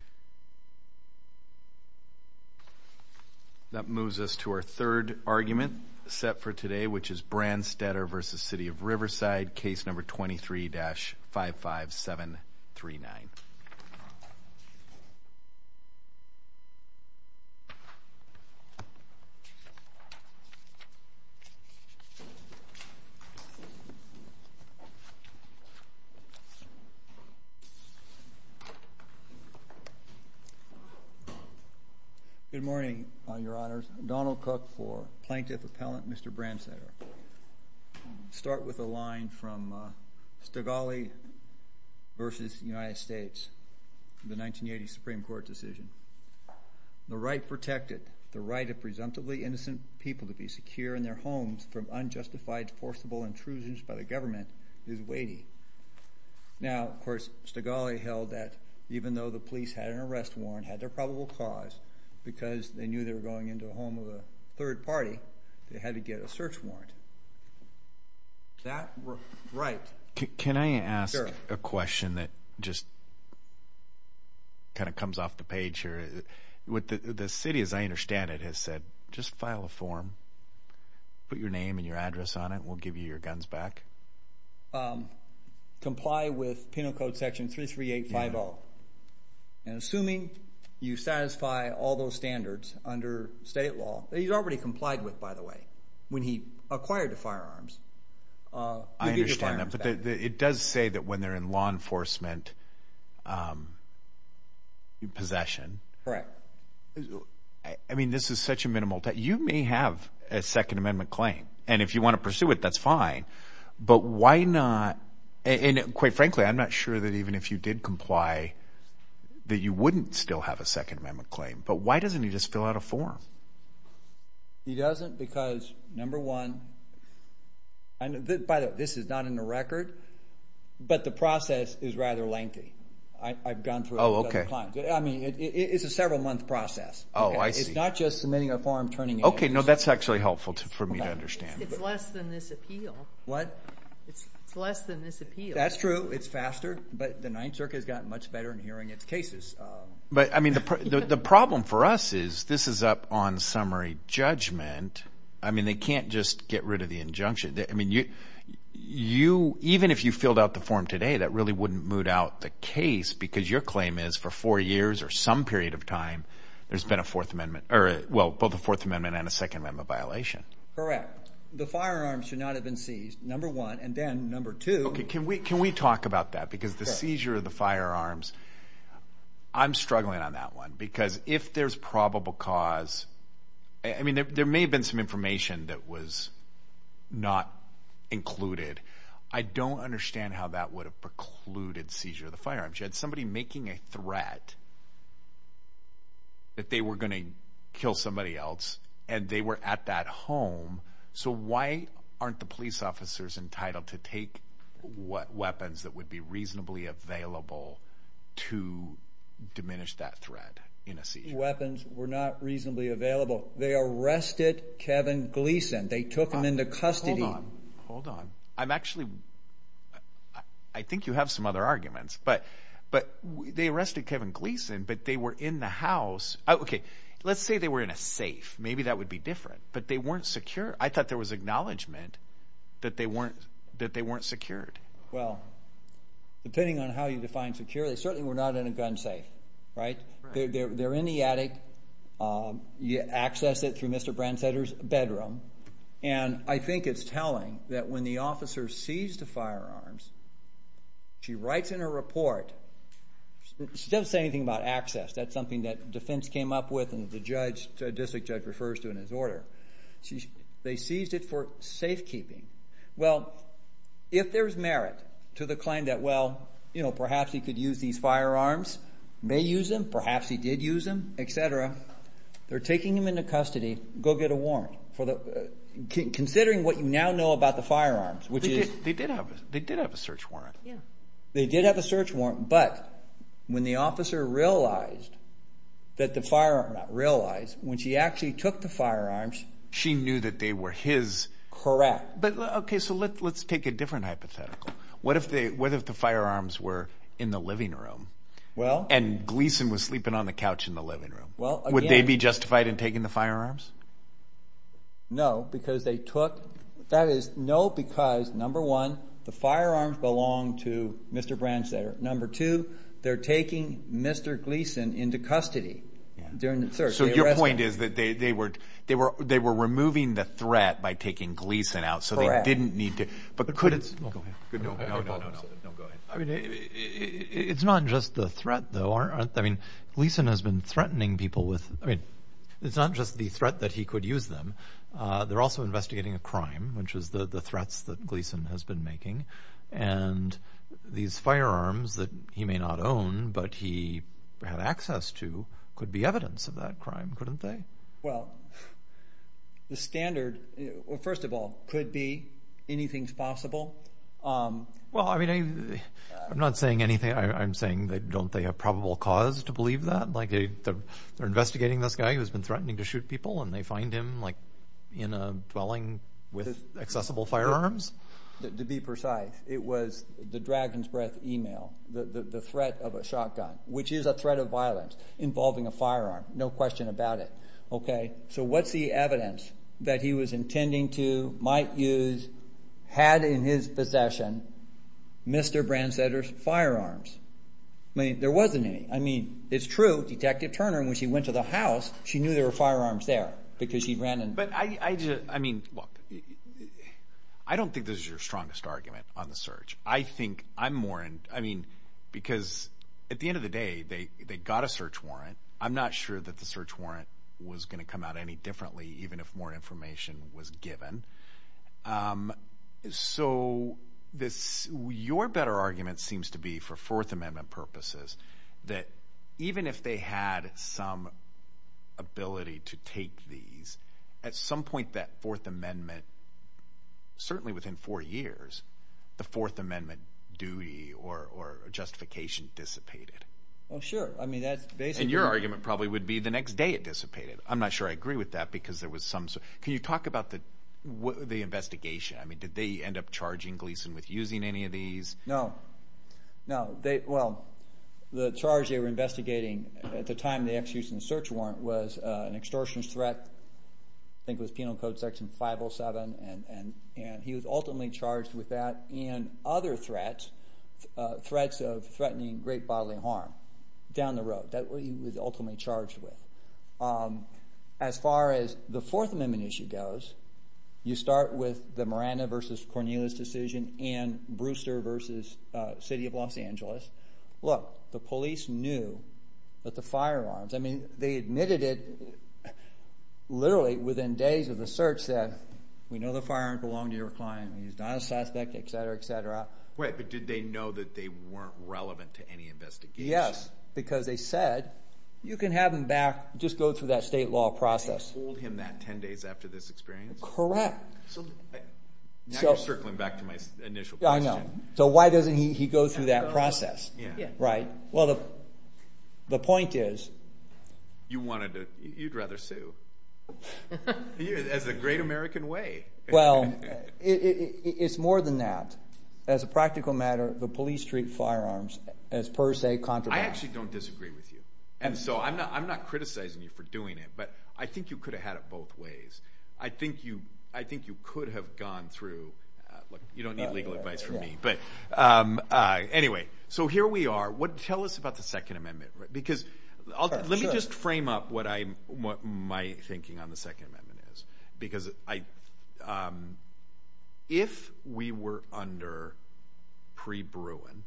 Case No. 23-55739 Good morning, Your Honors. Donald Cook for Plaintiff Appellant Mr. Brandstetter. I'll start with a line from Stigalli v. United States, the 1980 Supreme Court decision. The right protected, the right of presumptively innocent people to be secure in their homes from unjustified forcible intrusions by the government is weighty. Now, of course, Stigalli held that even though the police had an arrest warrant, had their probable cause, because they knew they were going into a home of a third party, they had to get a search warrant. Can I ask a question that just kind of comes off the page here? The city, as I understand it, has said, just file a form, put your name and your address on it, we'll give you your guns back. Comply with Penal Code Section 33850, and assuming you satisfy all those standards under state law, that he's already complied with, by the way, when he acquired the firearms, you'll get your firearms back. I understand that, but it does say that when they're in law enforcement possession. Correct. I mean, this is such a minimal, you may have a Second Amendment claim, and if you want to pursue it, that's fine. But why not, and quite frankly, I'm not sure that even if you did comply, that you wouldn't still have a Second Amendment claim. But why doesn't he just fill out a form? He doesn't because, number one, by the way, this is not in the record, but the process is rather lengthy. Oh, okay. I mean, it's a several-month process. Oh, I see. It's not just submitting a form, turning it in. Okay, no, that's actually helpful for me to understand. It's less than this appeal. What? It's less than this appeal. That's true, it's faster, but the Ninth Circuit has gotten much better in hearing its cases. But, I mean, the problem for us is this is up on summary judgment. I mean, they can't just get rid of the injunction. I mean, even if you filled out the form today, that really wouldn't moot out the case because your claim is for four years or some period of time, there's been a Fourth Amendment, or, well, both a Fourth Amendment and a Second Amendment violation. Correct. The firearms should not have been seized, number one, and then, number two. Okay, can we talk about that because the seizure of the firearms, I'm struggling on that one I don't understand how that would have precluded seizure of the firearms. You had somebody making a threat that they were going to kill somebody else, and they were at that home, so why aren't the police officers entitled to take weapons that would be reasonably available to diminish that threat in a seizure? Weapons were not reasonably available. They arrested Kevin Gleason. They took him into custody. Hold on. I'm actually, I think you have some other arguments, but they arrested Kevin Gleason, but they were in the house. Okay, let's say they were in a safe. Maybe that would be different, but they weren't secure. I thought there was acknowledgment that they weren't secured. Well, depending on how you define secure, they certainly were not in a gun safe, right? They're in the attic. You access it through Mr. Brandsetter's bedroom, and I think it's telling that when the officer seized the firearms, she writes in her report. She doesn't say anything about access. That's something that defense came up with and the district judge refers to in his order. They seized it for safekeeping. Well, if there's merit to the claim that, well, perhaps he could use these firearms, may use them, perhaps he did use them, et cetera, they're taking him into custody. Go get a warrant. Considering what you now know about the firearms, which is... They did have a search warrant. They did have a search warrant, but when the officer realized that the firearm, realized when she actually took the firearms... She knew that they were his... Correct. Okay, so let's take a different hypothetical. What if the firearms were in the living room and Gleason was sleeping on the couch in the living room? Would they be justified in taking the firearms? No, because they took... That is no because, number one, the firearms belong to Mr. Brandsetter. Number two, they're taking Mr. Gleason into custody during the search. So your point is that they were removing the threat by taking Gleason out. Correct. No, go ahead. It's not just the threat, though, aren't they? Gleason has been threatening people with... I mean, it's not just the threat that he could use them. They're also investigating a crime, which is the threats that Gleason has been making. And these firearms that he may not own, but he had access to, could be evidence of that crime, couldn't they? Well, the standard, first of all, could be anything's possible. Well, I mean, I'm not saying anything. I'm saying don't they have probable cause to believe that? Like they're investigating this guy who's been threatening to shoot people and they find him, like, in a dwelling with accessible firearms? To be precise, it was the Dragon's Breath email, the threat of a shotgun, which is a threat of violence involving a firearm, no question about it. So what's the evidence that he was intending to, might use, had in his possession Mr. Bransetter's firearms? I mean, there wasn't any. I mean, it's true, Detective Turner, when she went to the house, she knew there were firearms there because she ran and... But I just, I mean, look, I don't think this is your strongest argument on the search. I think I'm more in... I mean, because at the end of the day, they got a search warrant. I'm not sure that the search warrant was going to come out any differently, even if more information was given. So your better argument seems to be, for Fourth Amendment purposes, that even if they had some ability to take these, at some point that Fourth Amendment, certainly within four years, the Fourth Amendment duty or justification dissipated. Well, sure. I mean, that's basically... And your argument probably would be the next day it dissipated. I'm not sure I agree with that because there was some... Can you talk about the investigation? I mean, did they end up charging Gleason with using any of these? No. No. Well, the charge they were investigating at the time they executed the search warrant was an extortionist threat. I think it was Penal Code Section 507, and he was ultimately charged with that and other threats, threats of threatening great bodily harm down the road. That's what he was ultimately charged with. As far as the Fourth Amendment issue goes, you start with the Miranda v. Cornelius decision and Brewster v. City of Los Angeles. Look, the police knew that the firearms... I mean, they admitted it literally within days of the search that we know the firearm belonged to your client, he's not a suspect, et cetera, et cetera. Wait, but did they know that they weren't relevant to any investigation? Yes, because they said you can have him back, just go through that state law process. And they told him that 10 days after this experience? Correct. Now you're circling back to my initial question. I know. So why doesn't he go through that process? Yeah. Right. Well, the point is... You'd rather sue as the great American way. Well, it's more than that. As a practical matter, the police treat firearms as per se contraband. I actually don't disagree with you, and so I'm not criticizing you for doing it, but I think you could have had it both ways. I think you could have gone through... Look, you don't need legal advice from me. Anyway, so here we are. Tell us about the Second Amendment. Because let me just frame up what my thinking on the Second Amendment is. Because if we were under pre-Bruin,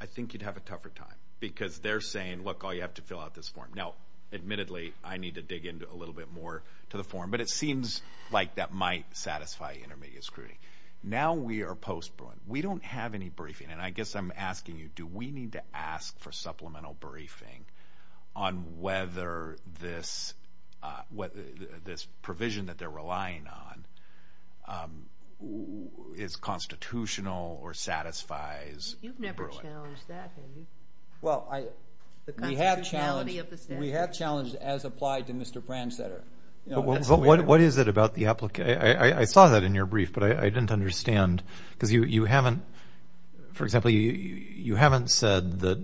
I think you'd have a tougher time. Because they're saying, look, all you have to do is fill out this form. Now, admittedly, I need to dig in a little bit more to the form, but it seems like that might satisfy intermediate scrutiny. Now we are post-Bruin. We don't have any briefing, and I guess I'm asking you, do we need to ask for supplemental briefing on whether this provision that they're relying on is constitutional or satisfies Bruin? You've never challenged that, have you? Well, we have challenged as applied to Mr. Brandstetter. But what is it about the application? I saw that in your brief, but I didn't understand. Because you haven't, for example, you haven't said that...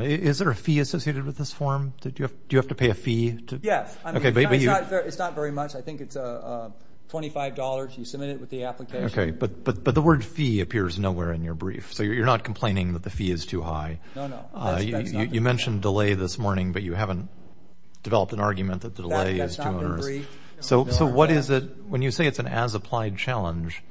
Is there a fee associated with this form? Do you have to pay a fee? Yes. It's not very much. I think it's $25. You submit it with the application. Okay. But the word fee appears nowhere in your brief. So you're not complaining that the fee is too high. No, no. That's not the brief. You mentioned delay this morning, but you haven't developed an argument that the delay is too onerous. That's not the brief. So what is it, when you say it's an as-applied challenge,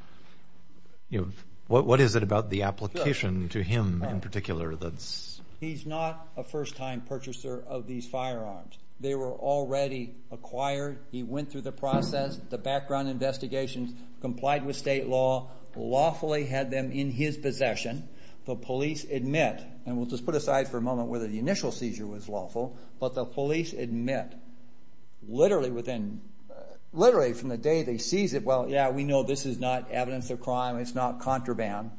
what is it about the application to him in particular that's... He's not a first-time purchaser of these firearms. They were already acquired. He went through the process, the background investigations, complied with state law, lawfully had them in his possession. The police admit, and we'll just put aside for a moment whether the initial seizure was lawful, but the police admit literally from the day they seize it, well, yeah, we know this is not evidence of crime. It's not contraband.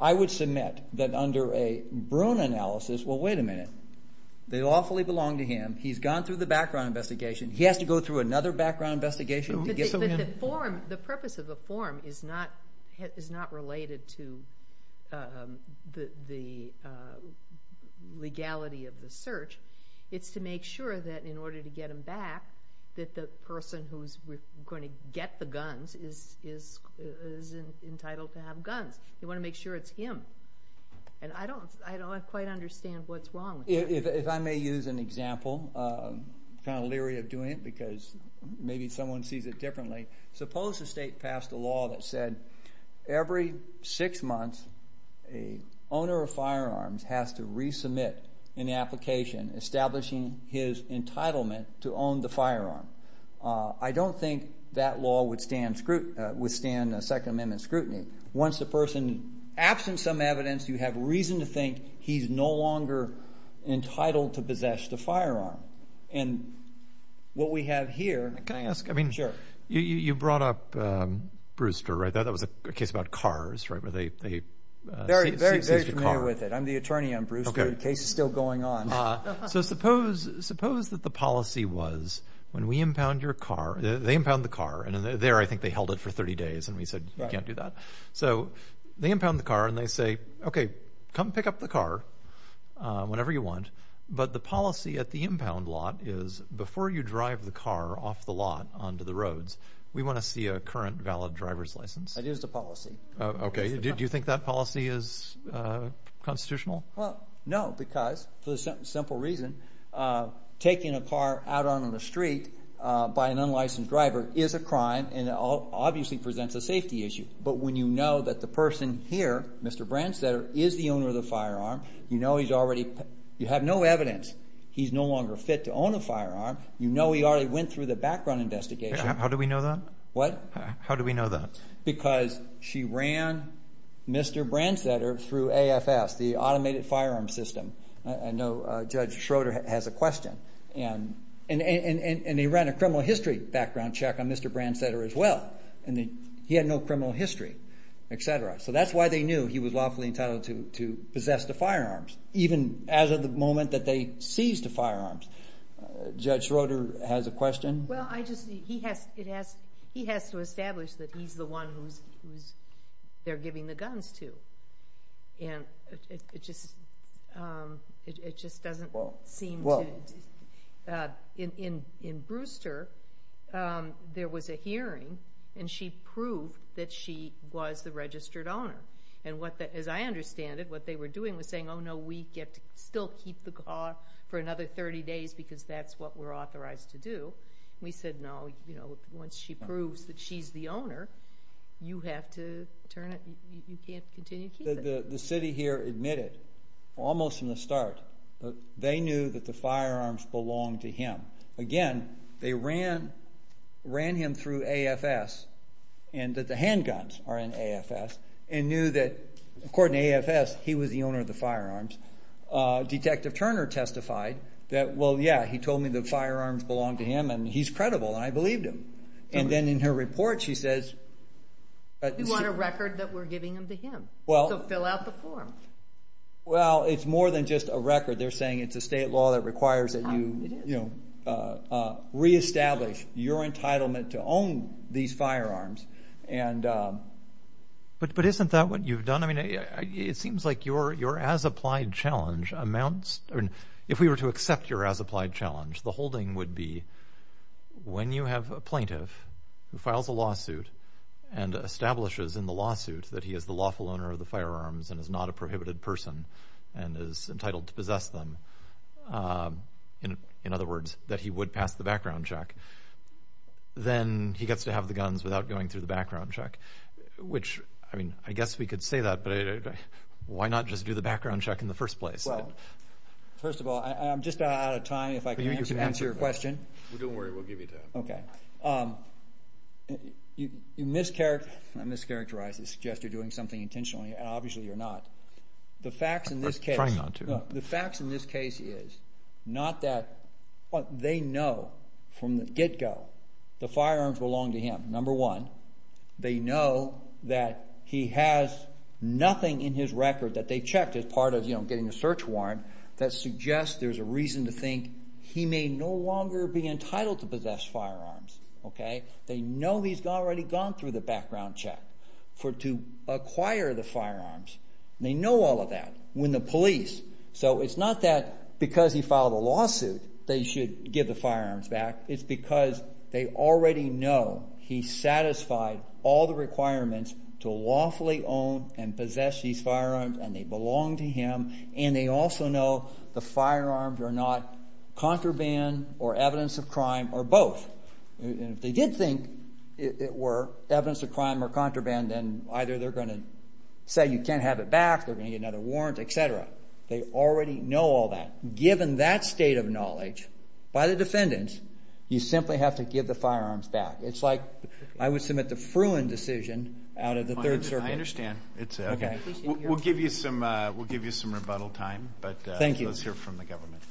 I would submit that under a Bruin analysis, well, wait a minute. They lawfully belong to him. He's gone through the background investigation. He has to go through another background investigation to get... It's to make sure that in order to get them back, that the person who's going to get the guns is entitled to have guns. You want to make sure it's him. And I don't quite understand what's wrong with that. If I may use an example, I'm kind of leery of doing it because maybe someone sees it differently. Suppose the state passed a law that said every six months, a owner of firearms has to resubmit an application establishing his entitlement to own the firearm. I don't think that law would stand Second Amendment scrutiny. Once the person, absent some evidence, you have reason to think he's no longer entitled to possess the firearm. And what we have here... Can I ask? Sure. You brought up Brewster, right? That was a case about cars, right, where they seize your car. Very familiar with it. I'm the attorney on Brewster. The case is still going on. So suppose that the policy was when we impound your car... They impound the car, and there I think they held it for 30 days, and we said you can't do that. So they impound the car, and they say, okay, come pick up the car whenever you want. But the policy at the impound lot is before you drive the car off the lot onto the roads, we want to see a current valid driver's license. That is the policy. Okay. Do you think that policy is constitutional? Well, no, because for the simple reason taking a car out on the street by an unlicensed driver is a crime, and it obviously presents a safety issue. But when you know that the person here, Mr. Brandstetter, is the owner of the firearm, you know he's already... you have no evidence he's no longer fit to own a firearm. You know he already went through the background investigation. How do we know that? How do we know that? Because she ran Mr. Brandstetter through AFS, the Automated Firearm System. I know Judge Schroeder has a question. And they ran a criminal history background check on Mr. Brandstetter as well, and he had no criminal history, et cetera. So that's why they knew he was lawfully entitled to possess the firearms, even as of the moment that they seized the firearms. Judge Schroeder has a question. Well, he has to establish that he's the one who they're giving the guns to. And it just doesn't seem to... In Brewster, there was a hearing, and she proved that she was the registered owner. And as I understand it, what they were doing was saying, no, no, we get to still keep the car for another 30 days because that's what we're authorized to do. We said, no, once she proves that she's the owner, you have to turn it. You can't continue to keep it. The city here admitted almost from the start that they knew that the firearms belonged to him. Again, they ran him through AFS and that the handguns are in AFS and knew that, according to AFS, he was the owner of the firearms. Detective Turner testified that, well, yeah, he told me the firearms belonged to him, and he's credible, and I believed him. And then in her report, she says... You want a record that we're giving them to him to fill out the form. Well, it's more than just a record. They're saying it's a state law that requires that you reestablish your entitlement to own these firearms. But isn't that what you've done? I mean, it seems like your as-applied challenge amounts... I mean, if we were to accept your as-applied challenge, the holding would be when you have a plaintiff who files a lawsuit and establishes in the lawsuit that he is the lawful owner of the firearms and is not a prohibited person and is entitled to possess them, in other words, that he would pass the background check, then he gets to have the guns without going through the background check, which, I mean, I guess we could say that, but why not just do the background check in the first place? Well, first of all, I'm just out of time. If I can answer your question... Well, don't worry. We'll give you time. You mischaracterize... I mischaracterize and suggest you're doing something intentionally, and obviously you're not. The facts in this case... I'm trying not to. The facts in this case is not that... They know from the get-go the firearms belong to him, number one. They know that he has nothing in his record that they checked as part of getting a search warrant that suggests there's a reason to think he may no longer be entitled to possess firearms. They know he's already gone through the background check to acquire the firearms. They know all of that when the police... So it's not that because he filed a lawsuit they should give the firearms back. It's because they already know he satisfied all the requirements to lawfully own and possess these firearms, and they belong to him, and they also know the firearms are not contraband or evidence of crime or both. If they did think it were evidence of crime or contraband, then either they're going to say you can't have it back, they're going to get another warrant, et cetera. They already know all that. Given that state of knowledge by the defendants, you simply have to give the firearms back. It's like I would submit the Fruin decision out of the Third Circuit. I understand. We'll give you some rebuttal time, but let's hear from the government.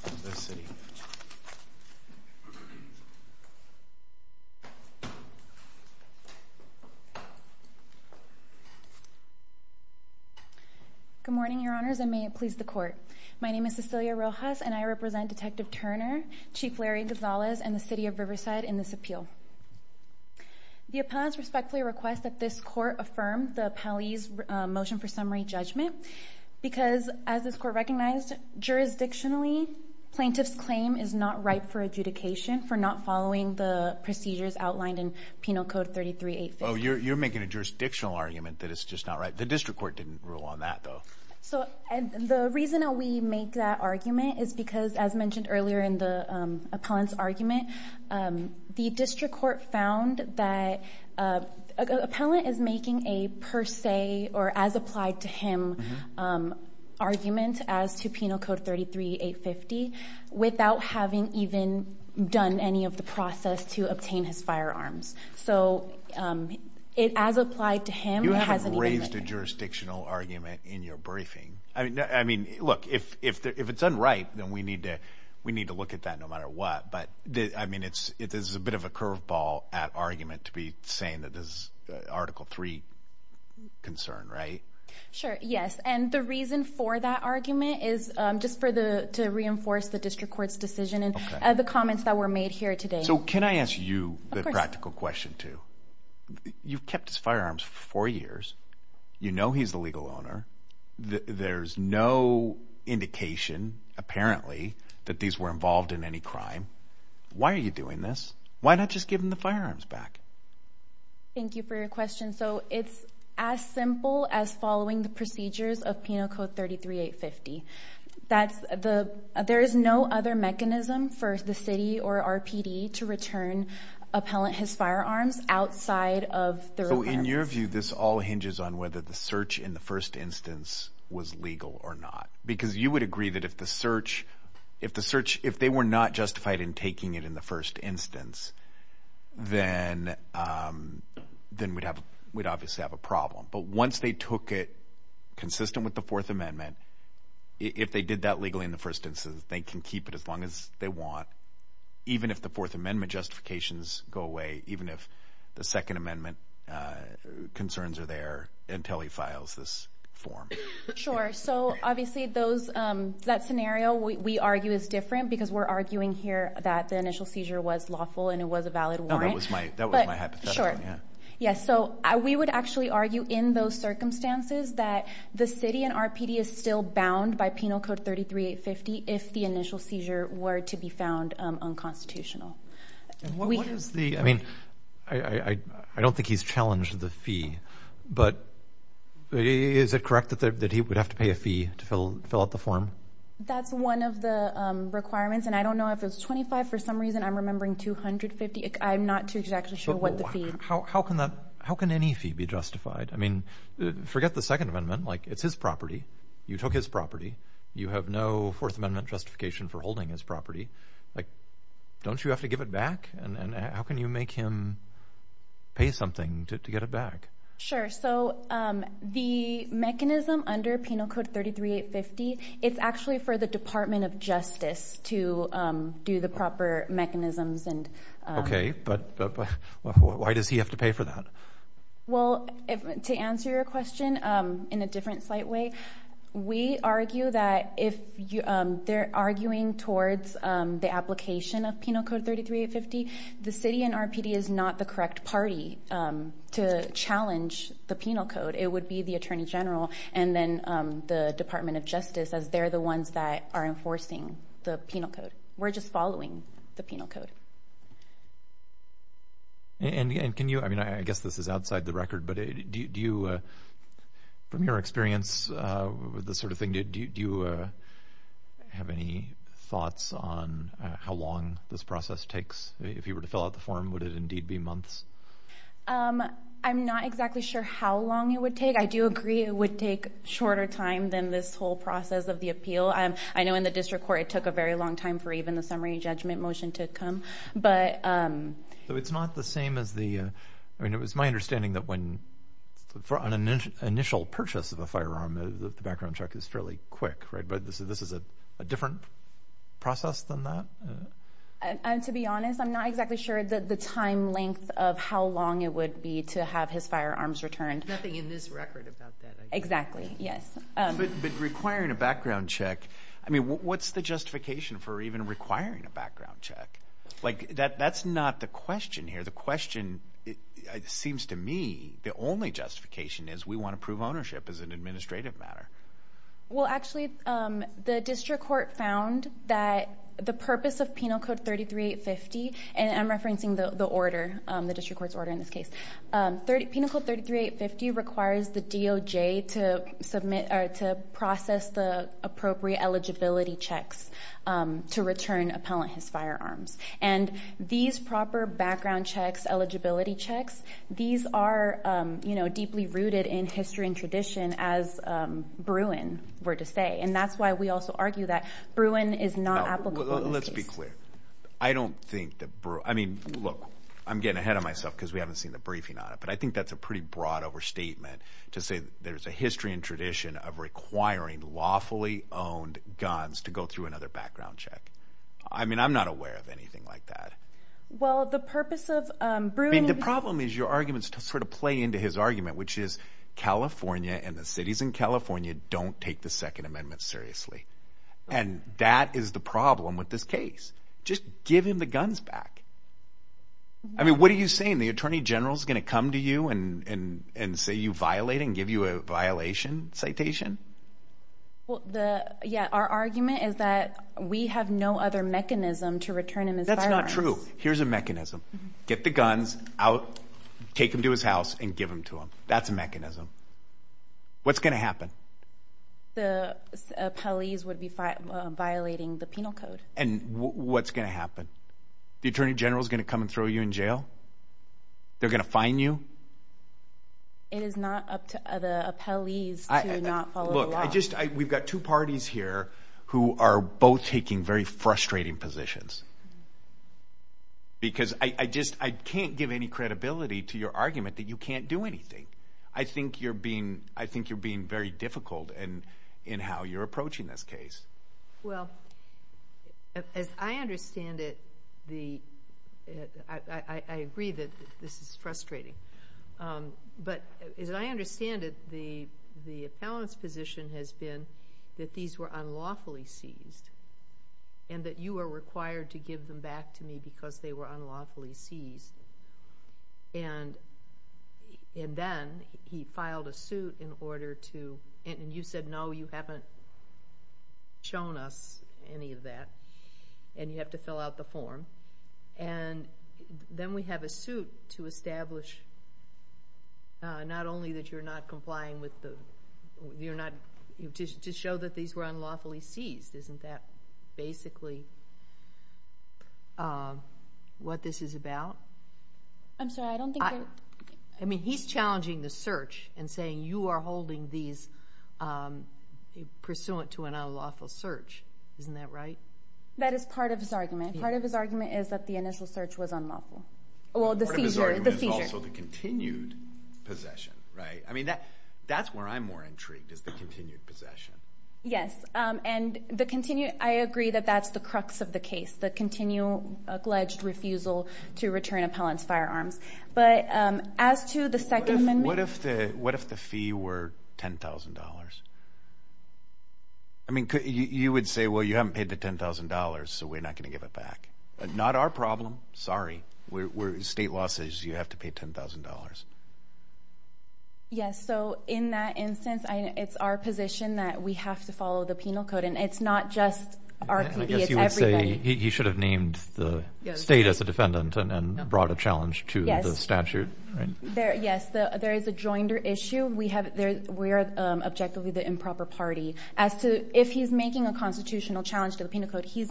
Good morning, Your Honors, and may it please the Court. My name is Cecilia Rojas, and I represent Detective Turner, Chief Larry Gonzalez, and the City of Riverside in this appeal. The appellants respectfully request that this Court affirm the appellee's motion for summary judgment because, as this Court recognized, jurisdictionally plaintiff's claim is not ripe for adjudication for not following the procedures outlined in Penal Code 33-850. You're making a jurisdictional argument that it's just not right. The district court didn't rule on that, though. The reason that we make that argument is because, as mentioned earlier in the appellant's argument, the district court found that an appellant is making a per se or as-applied-to-him argument as to Penal Code 33-850 without having even done any of the process to obtain his firearms. So as-applied-to-him hasn't even made it. You haven't raised a jurisdictional argument in your briefing. I mean, look, if it's unripe, then we need to look at that no matter what. But, I mean, this is a bit of a curveball at argument to be saying that this is Article III concern, right? Sure, yes. And the reason for that argument is just to reinforce the district court's decision and the comments that were made here today. So can I ask you the practical question, too? You've kept his firearms for four years. You know he's the legal owner. There's no indication, apparently, that these were involved in any crime. Why are you doing this? Why not just give him the firearms back? Thank you for your question. So it's as simple as following the procedures of Penal Code 33-850. There is no other mechanism for the city or RPD to return an appellant his firearms outside of the requirements. So in your view, this all hinges on whether the search in the first instance was legal or not? Because you would agree that if the search, if they were not justified in taking it in the first instance, then we'd obviously have a problem. But once they took it consistent with the Fourth Amendment, if they did that legally in the first instance, they can keep it as long as they want, even if the Fourth Amendment justifications go away, even if the Second Amendment concerns are there until he files this form. Sure. Sure. So obviously that scenario, we argue, is different because we're arguing here that the initial seizure was lawful and it was a valid warrant. No, that was my hypothetical. Yeah. So we would actually argue in those circumstances that the city and RPD is still bound by Penal Code 33-850 if the initial seizure were to be found unconstitutional. I mean, I don't think he's challenged the fee, but is it correct that he would have to pay a fee to fill out the form? That's one of the requirements, and I don't know if it's 25 for some reason. I'm remembering 250. I'm not too exactly sure what the fee is. How can any fee be justified? I mean, forget the Second Amendment. Like, it's his property. You took his property. You have no Fourth Amendment justification for holding his property. Like, don't you have to give it back? And how can you make him pay something to get it back? Sure. So the mechanism under Penal Code 33-850, it's actually for the Department of Justice to do the proper mechanisms. Okay, but why does he have to pay for that? Well, to answer your question in a different, slight way, we argue that if they're arguing towards the application of Penal Code 33-850, the city and RPD is not the correct party to challenge the Penal Code. It would be the Attorney General and then the Department of Justice, as they're the ones that are enforcing the Penal Code. We're just following the Penal Code. And can you, I mean, I guess this is outside the record, but do you, from your experience with this sort of thing, do you have any thoughts on how long this process takes? If you were to fill out the form, would it indeed be months? I'm not exactly sure how long it would take. I do agree it would take shorter time than this whole process of the appeal. I know in the district court it took a very long time for even the summary judgment motion to come. So it's not the same as the, I mean, it was my understanding that when an initial purchase of a firearm, the background check is fairly quick, right? But this is a different process than that? To be honest, I'm not exactly sure the time length of how long it would be to have his firearms returned. Nothing in this record about that, I guess. Exactly, yes. But requiring a background check, I mean, what's the justification for even requiring a background check? That's not the question here. The question, it seems to me, the only justification is we want to prove ownership as an administrative matter. Well, actually, the district court found that the purpose of Penal Code 33850, and I'm referencing the order, the district court's order in this case, Penal Code 33850 requires the DOJ to process the appropriate eligibility checks to return appellant his firearms. And these proper background checks, eligibility checks, these are deeply rooted in history and tradition, as Bruin were to say. And that's why we also argue that Bruin is not applicable in this case. Let's be clear. I don't think that Bruin, I mean, look, I'm getting ahead of myself because we haven't seen the briefing on it, but I think that's a pretty broad overstatement to say there's a history and tradition of requiring lawfully owned guns to go through another background check. I mean, I'm not aware of anything like that. Well, the purpose of Bruin… I mean, the problem is your arguments sort of play into his argument, which is California and the cities in California don't take the Second Amendment seriously. And that is the problem with this case. Just give him the guns back. I mean, what are you saying? The attorney general is going to come to you and say you violate and give you a violation citation? Well, yeah, our argument is that we have no other mechanism to return him his firearms. That's not true. Here's a mechanism. Get the guns out, take them to his house, and give them to him. That's a mechanism. What's going to happen? The appellees would be violating the penal code. And what's going to happen? The attorney general is going to come and throw you in jail? They're going to fine you? It is not up to the appellees to not follow the law. Look, we've got two parties here who are both taking very frustrating positions. Because I just can't give any credibility to your argument that you can't do anything. I think you're being very difficult in how you're approaching this case. Well, as I understand it, I agree that this is frustrating. But as I understand it, the appellant's position has been that these were unlawfully seized and that you are required to give them back to me because they were unlawfully seized. And then he filed a suit in order to, and you said no, you haven't shown us any of that, and you have to fill out the form. And then we have a suit to establish not only that you're not complying with the, to show that these were unlawfully seized. Isn't that basically what this is about? I'm sorry, I don't think that. I mean, he's challenging the search and saying you are holding these pursuant to an unlawful search. Isn't that right? That is part of his argument. Part of his argument is that the initial search was unlawful. Well, the seizure. Part of his argument is also the continued possession, right? I mean, that's where I'm more intrigued, is the continued possession. Yes, and I agree that that's the crux of the case, the continued, alleged refusal to return appellant's firearms. But as to the second amendment. What if the fee were $10,000? I mean, you would say, well, you haven't paid the $10,000, so we're not going to give it back. Not our problem, sorry. State law says you have to pay $10,000. Yes, so in that instance, it's our position that we have to follow the penal code, and it's not just our PD, it's everybody. I guess you would say he should have named the state as a defendant and brought a challenge to the statute, right? Yes, there is a joinder issue. We are objectively the improper party. As to if he's making a constitutional challenge to the penal code, he's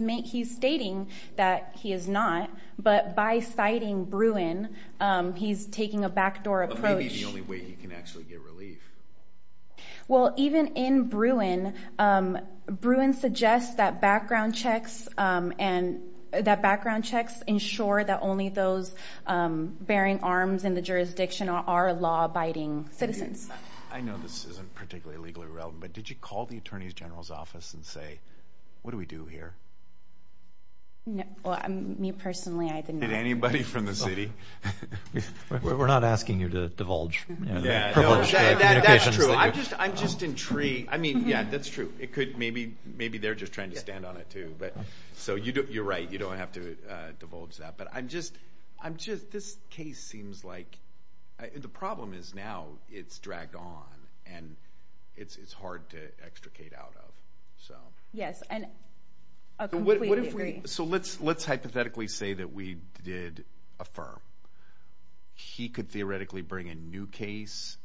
stating that he is not. But by citing Bruin, he's taking a backdoor approach. But maybe the only way he can actually get relief. Well, even in Bruin, Bruin suggests that background checks ensure that only those bearing arms in the jurisdiction are law-abiding citizens. I know this isn't particularly legally relevant, but did you call the Attorney General's office and say, what do we do here? Me personally, I did not. Did anybody from the city? We're not asking you to divulge. That's true. I'm just intrigued. I mean, yeah, that's true. Maybe they're just trying to stand on it too. You're right, you don't have to divulge that. But this case seems like the problem is now it's dragged on, and it's hard to extricate out of. Yes, I completely agree. So let's hypothetically say that we did affirm. He could theoretically bring a new case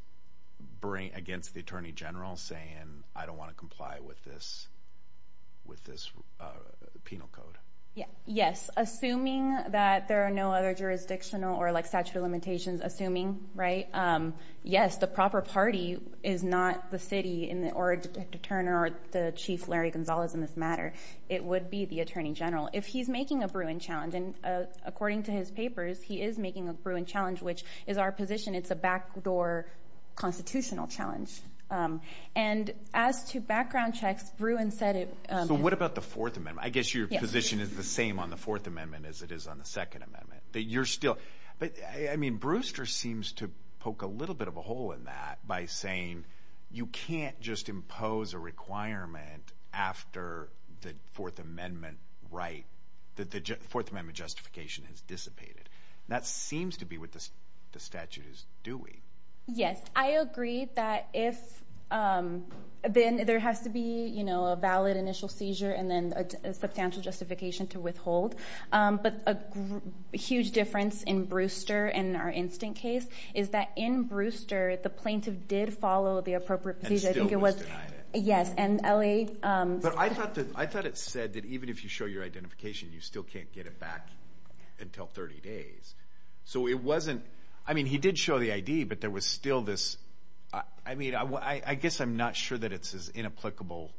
against the Attorney General saying, I don't want to comply with this penal code. Yes, assuming that there are no other jurisdictional or statute of limitations, assuming, right? Yes, the proper party is not the city or Detective Turner or the Chief Larry Gonzalez in this matter. It would be the Attorney General. If he's making a Bruin challenge, and according to his papers, he is making a Bruin challenge, which is our position. It's a backdoor constitutional challenge. And as to background checks, Bruin said it. So what about the Fourth Amendment? I guess your position is the same on the Fourth Amendment as it is on the Second Amendment, that you're still – I mean, Brewster seems to poke a little bit of a hole in that by saying you can't just impose a requirement after the Fourth Amendment right, that the Fourth Amendment justification has dissipated. That seems to be what the statute is doing. Yes, I agree that if – then there has to be a valid initial seizure and then a substantial justification to withhold. But a huge difference in Brewster and our instant case is that in Brewster, the plaintiff did follow the appropriate procedure. And still was denied it. Yes, and LA – But I thought it said that even if you show your identification, you still can't get it back until 30 days. So it wasn't – I mean, he did show the ID, but there was still this – I mean, I guess I'm not sure that it's as inapplicable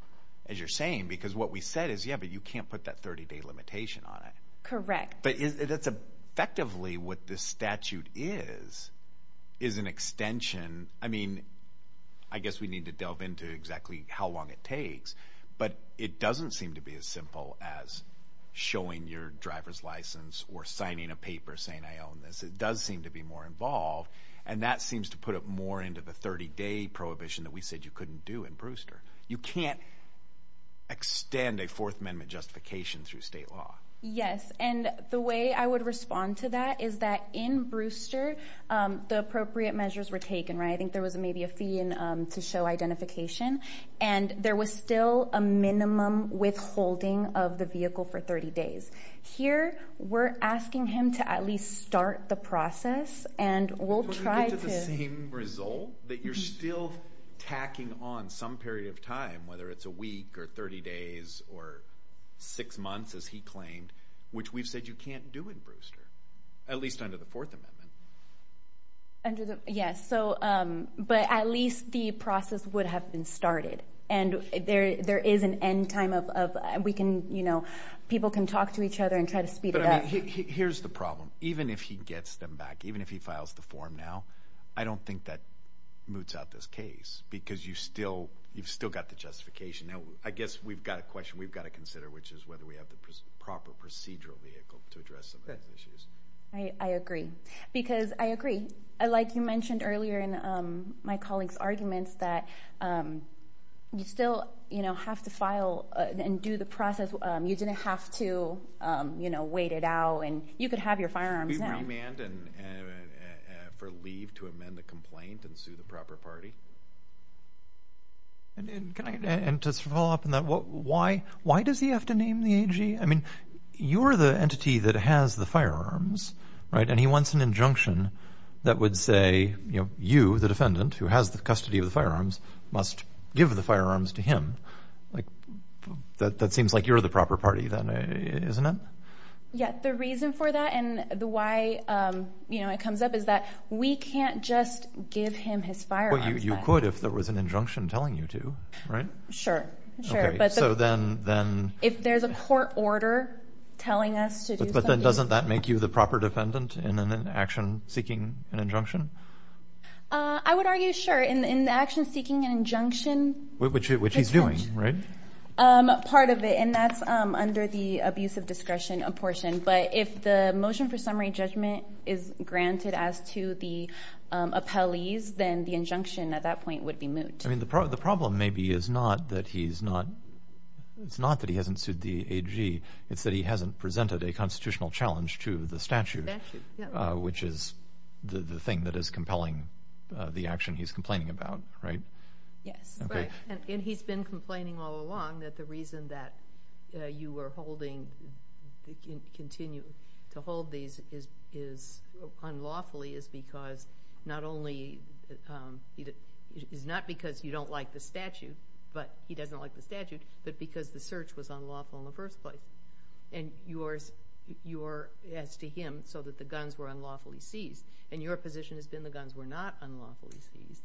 as you're saying because what we said is, yeah, but you can't put that 30-day limitation on it. Correct. But that's effectively what this statute is, is an extension. I mean, I guess we need to delve into exactly how long it takes. But it doesn't seem to be as simple as showing your driver's license or signing a paper saying, I own this. It does seem to be more involved. And that seems to put it more into the 30-day prohibition that we said you couldn't do in Brewster. You can't extend a Fourth Amendment justification through state law. Yes, and the way I would respond to that is that in Brewster, the appropriate measures were taken, right? I think there was maybe a fee to show identification. And there was still a minimum withholding of the vehicle for 30 days. Here, we're asking him to at least start the process, and we'll try to – To get to the same result, that you're still tacking on some period of time, whether it's a week or 30 days or six months, as he claimed, which we've said you can't do in Brewster, at least under the Fourth Amendment. Under the – yes. But at least the process would have been started. And there is an end time of we can – people can talk to each other and try to speed it up. But, I mean, here's the problem. Even if he gets them back, even if he files the form now, I don't think that moots out this case because you've still got the justification. Now, I guess we've got a question we've got to consider, which is whether we have the proper procedural vehicle to address some of these issues. I agree. Because – I agree. Like you mentioned earlier in my colleague's arguments, that you still have to file and do the process. You didn't have to wait it out. And you could have your firearms now. Should we remand for leave to amend the complaint and sue the proper party? And to follow up on that, why does he have to name the AG? I mean, you're the entity that has the firearms, right? And he wants an injunction that would say, you know, you, the defendant, who has the custody of the firearms, must give the firearms to him. Like, that seems like you're the proper party then, isn't it? Yeah. The reason for that and the why, you know, it comes up is that we can't just give him his firearms back. Well, you could if there was an injunction telling you to, right? Sure. Sure. Okay. So then – If there's a court order telling us to do something – But then doesn't that make you the proper defendant in an action seeking an injunction? I would argue, sure. In the action seeking an injunction – Which he's doing, right? Part of it. And that's under the abuse of discretion apportion. But if the motion for summary judgment is granted as to the appellees, then the injunction at that point would be moot. I mean, the problem maybe is not that he's not – it's not that he hasn't sued the AG. It's that he hasn't presented a constitutional challenge to the statute, which is the thing that is compelling the action he's complaining about, right? Yes. Right. And he's been complaining all along that the reason that you were holding – continue to hold these unlawfully is because not only – is not because you don't like the statute, but – he doesn't like the statute, but because the search was unlawful in the first place. And you are, as to him, so that the guns were unlawfully seized. And your position has been the guns were not unlawfully seized,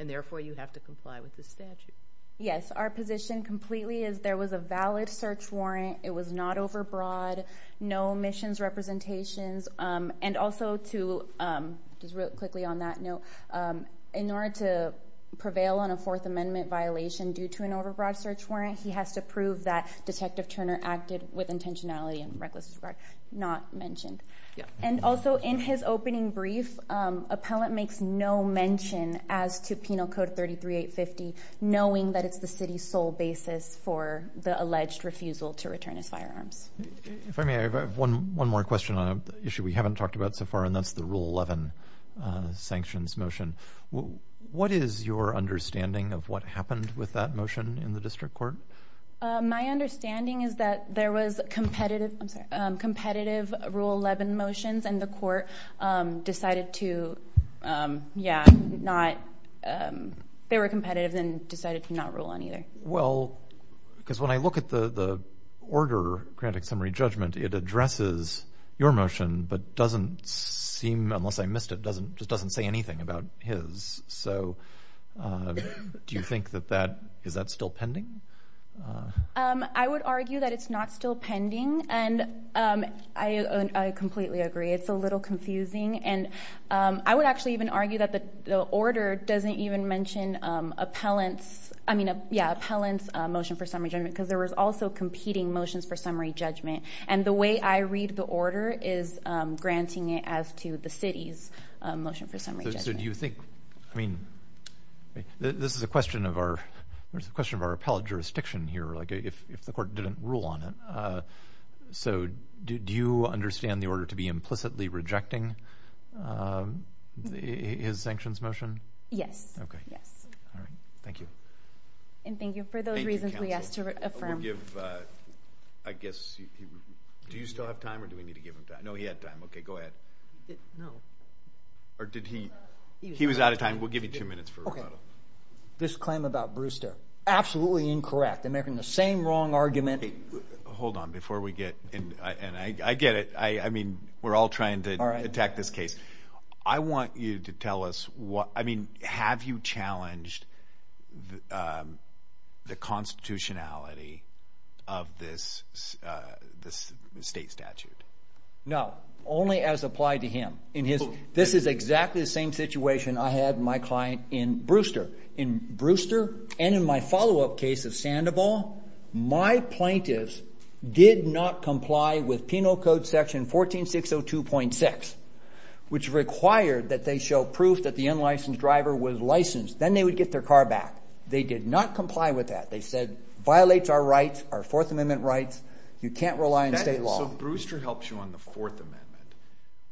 and therefore you have to comply with the statute. Yes. Our position completely is there was a valid search warrant. It was not overbroad. No omissions representations. And also to – just real quickly on that note. In order to prevail on a Fourth Amendment violation due to an overbroad search warrant, he has to prove that Detective Turner acted with intentionality and reckless disregard, not mentioned. Yes. And also, in his opening brief, appellant makes no mention as to Penal Code 33850, knowing that it's the city's sole basis for the alleged refusal to return his firearms. If I may, I have one more question on an issue we haven't talked about so far, and that's the Rule 11 sanctions motion. What is your understanding of what happened with that motion in the district court? My understanding is that there was competitive Rule 11 motions, and the court decided to, yeah, not – they were competitive and decided to not rule on either. Well, because when I look at the order, granted summary judgment, it addresses your motion but doesn't seem, unless I missed it, just doesn't say anything about his. So do you think that that – is that still pending? I would argue that it's not still pending, and I completely agree. It's a little confusing. And I would actually even argue that the order doesn't even mention appellant's – I mean, yeah, appellant's motion for summary judgment because there was also competing motions for summary judgment. And the way I read the order is granting it as to the city's motion for summary judgment. So do you think – I mean, this is a question of our appellate jurisdiction here, like if the court didn't rule on it. So do you understand the order to be implicitly rejecting his sanctions motion? Yes. Okay. Yes. All right. Thank you. And thank you for those reasons we asked to affirm. I guess – do you still have time or do we need to give him time? No, he had time. Okay, go ahead. No. Or did he – he was out of time. We'll give you two minutes for rebuttal. This claim about Brewster, absolutely incorrect. They're making the same wrong argument. Hold on before we get – and I get it. I mean, we're all trying to attack this case. I want you to tell us what – I mean, have you challenged the constitutionality of this state statute? No. Only as applied to him. This is exactly the same situation I had my client in Brewster. In Brewster and in my follow-up case of Sandoval, my plaintiffs did not comply with Penal Code Section 14602.6, which required that they show proof that the unlicensed driver was licensed. Then they would get their car back. They did not comply with that. They said, violates our rights, our Fourth Amendment rights. You can't rely on state law. So Brewster helps you on the Fourth Amendment.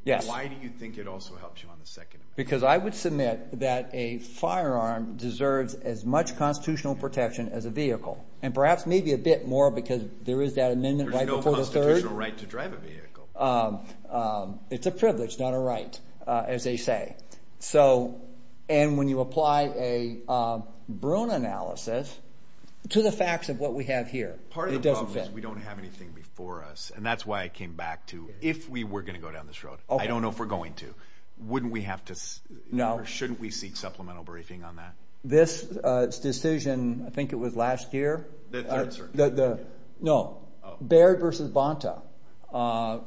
Yes. Why do you think it also helps you on the Second Amendment? Because I would submit that a firearm deserves as much constitutional protection as a vehicle. And perhaps maybe a bit more because there is that amendment right before the third. There's no constitutional right to drive a vehicle. It's a privilege, not a right, as they say. So – and when you apply a Bruin analysis to the facts of what we have here, it doesn't fit. Part of the problem is we don't have anything before us. And that's why I came back to if we were going to go down this road. I don't know if we're going to. Wouldn't we have to – or shouldn't we seek supplemental briefing on that? This decision, I think it was last year. The third, sir. No. Baird versus Bonta.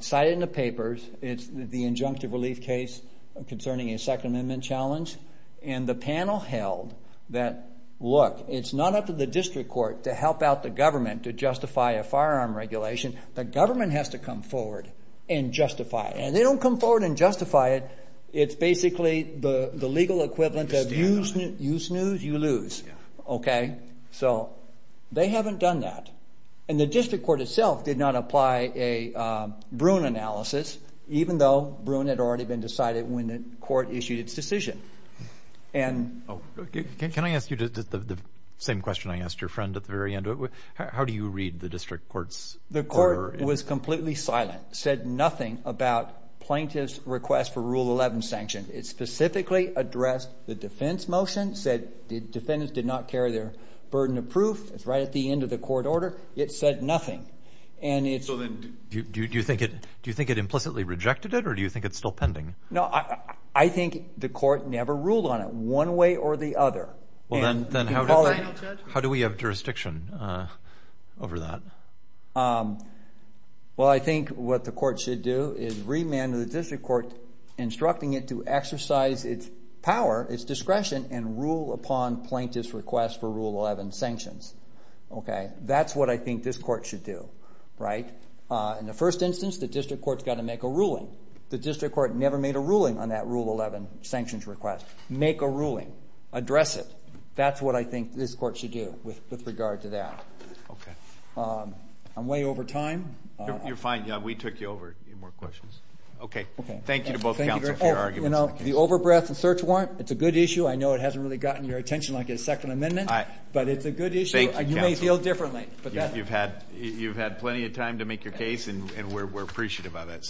Cited in the papers. It's the injunctive relief case concerning a Second Amendment challenge. And the panel held that, look, it's not up to the district court to help out the government to justify a firearm regulation. The government has to come forward and justify it. And they don't come forward and justify it. It's basically the legal equivalent of you snooze, you lose. So they haven't done that. And the district court itself did not apply a Bruin analysis, even though Bruin had already been decided when the court issued its decision. Can I ask you the same question I asked your friend at the very end? How do you read the district court's order? The court was completely silent, said nothing about plaintiff's request for Rule 11 sanction. It specifically addressed the defense motion, said the defendants did not carry their burden of proof. It's right at the end of the court order. It said nothing. Do you think it implicitly rejected it, or do you think it's still pending? No, I think the court never ruled on it one way or the other. Then how do we have jurisdiction over that? Well, I think what the court should do is remand the district court, instructing it to exercise its power, its discretion, and rule upon plaintiff's request for Rule 11 sanctions. That's what I think this court should do. In the first instance, the district court's got to make a ruling. The district court never made a ruling on that Rule 11 sanctions request. Make a ruling. Address it. That's what I think this court should do with regard to that. I'm way over time. You're fine. We took you over. Any more questions? Thank you to both counsel for your arguments. The over-breath and search warrant, it's a good issue. I know it hasn't really gotten your attention like a Second Amendment, but it's a good issue. You may feel differently. You've had plenty of time to make your case, and we're appreciative of it.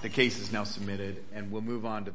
The case is now submitted, and we'll move on to the final.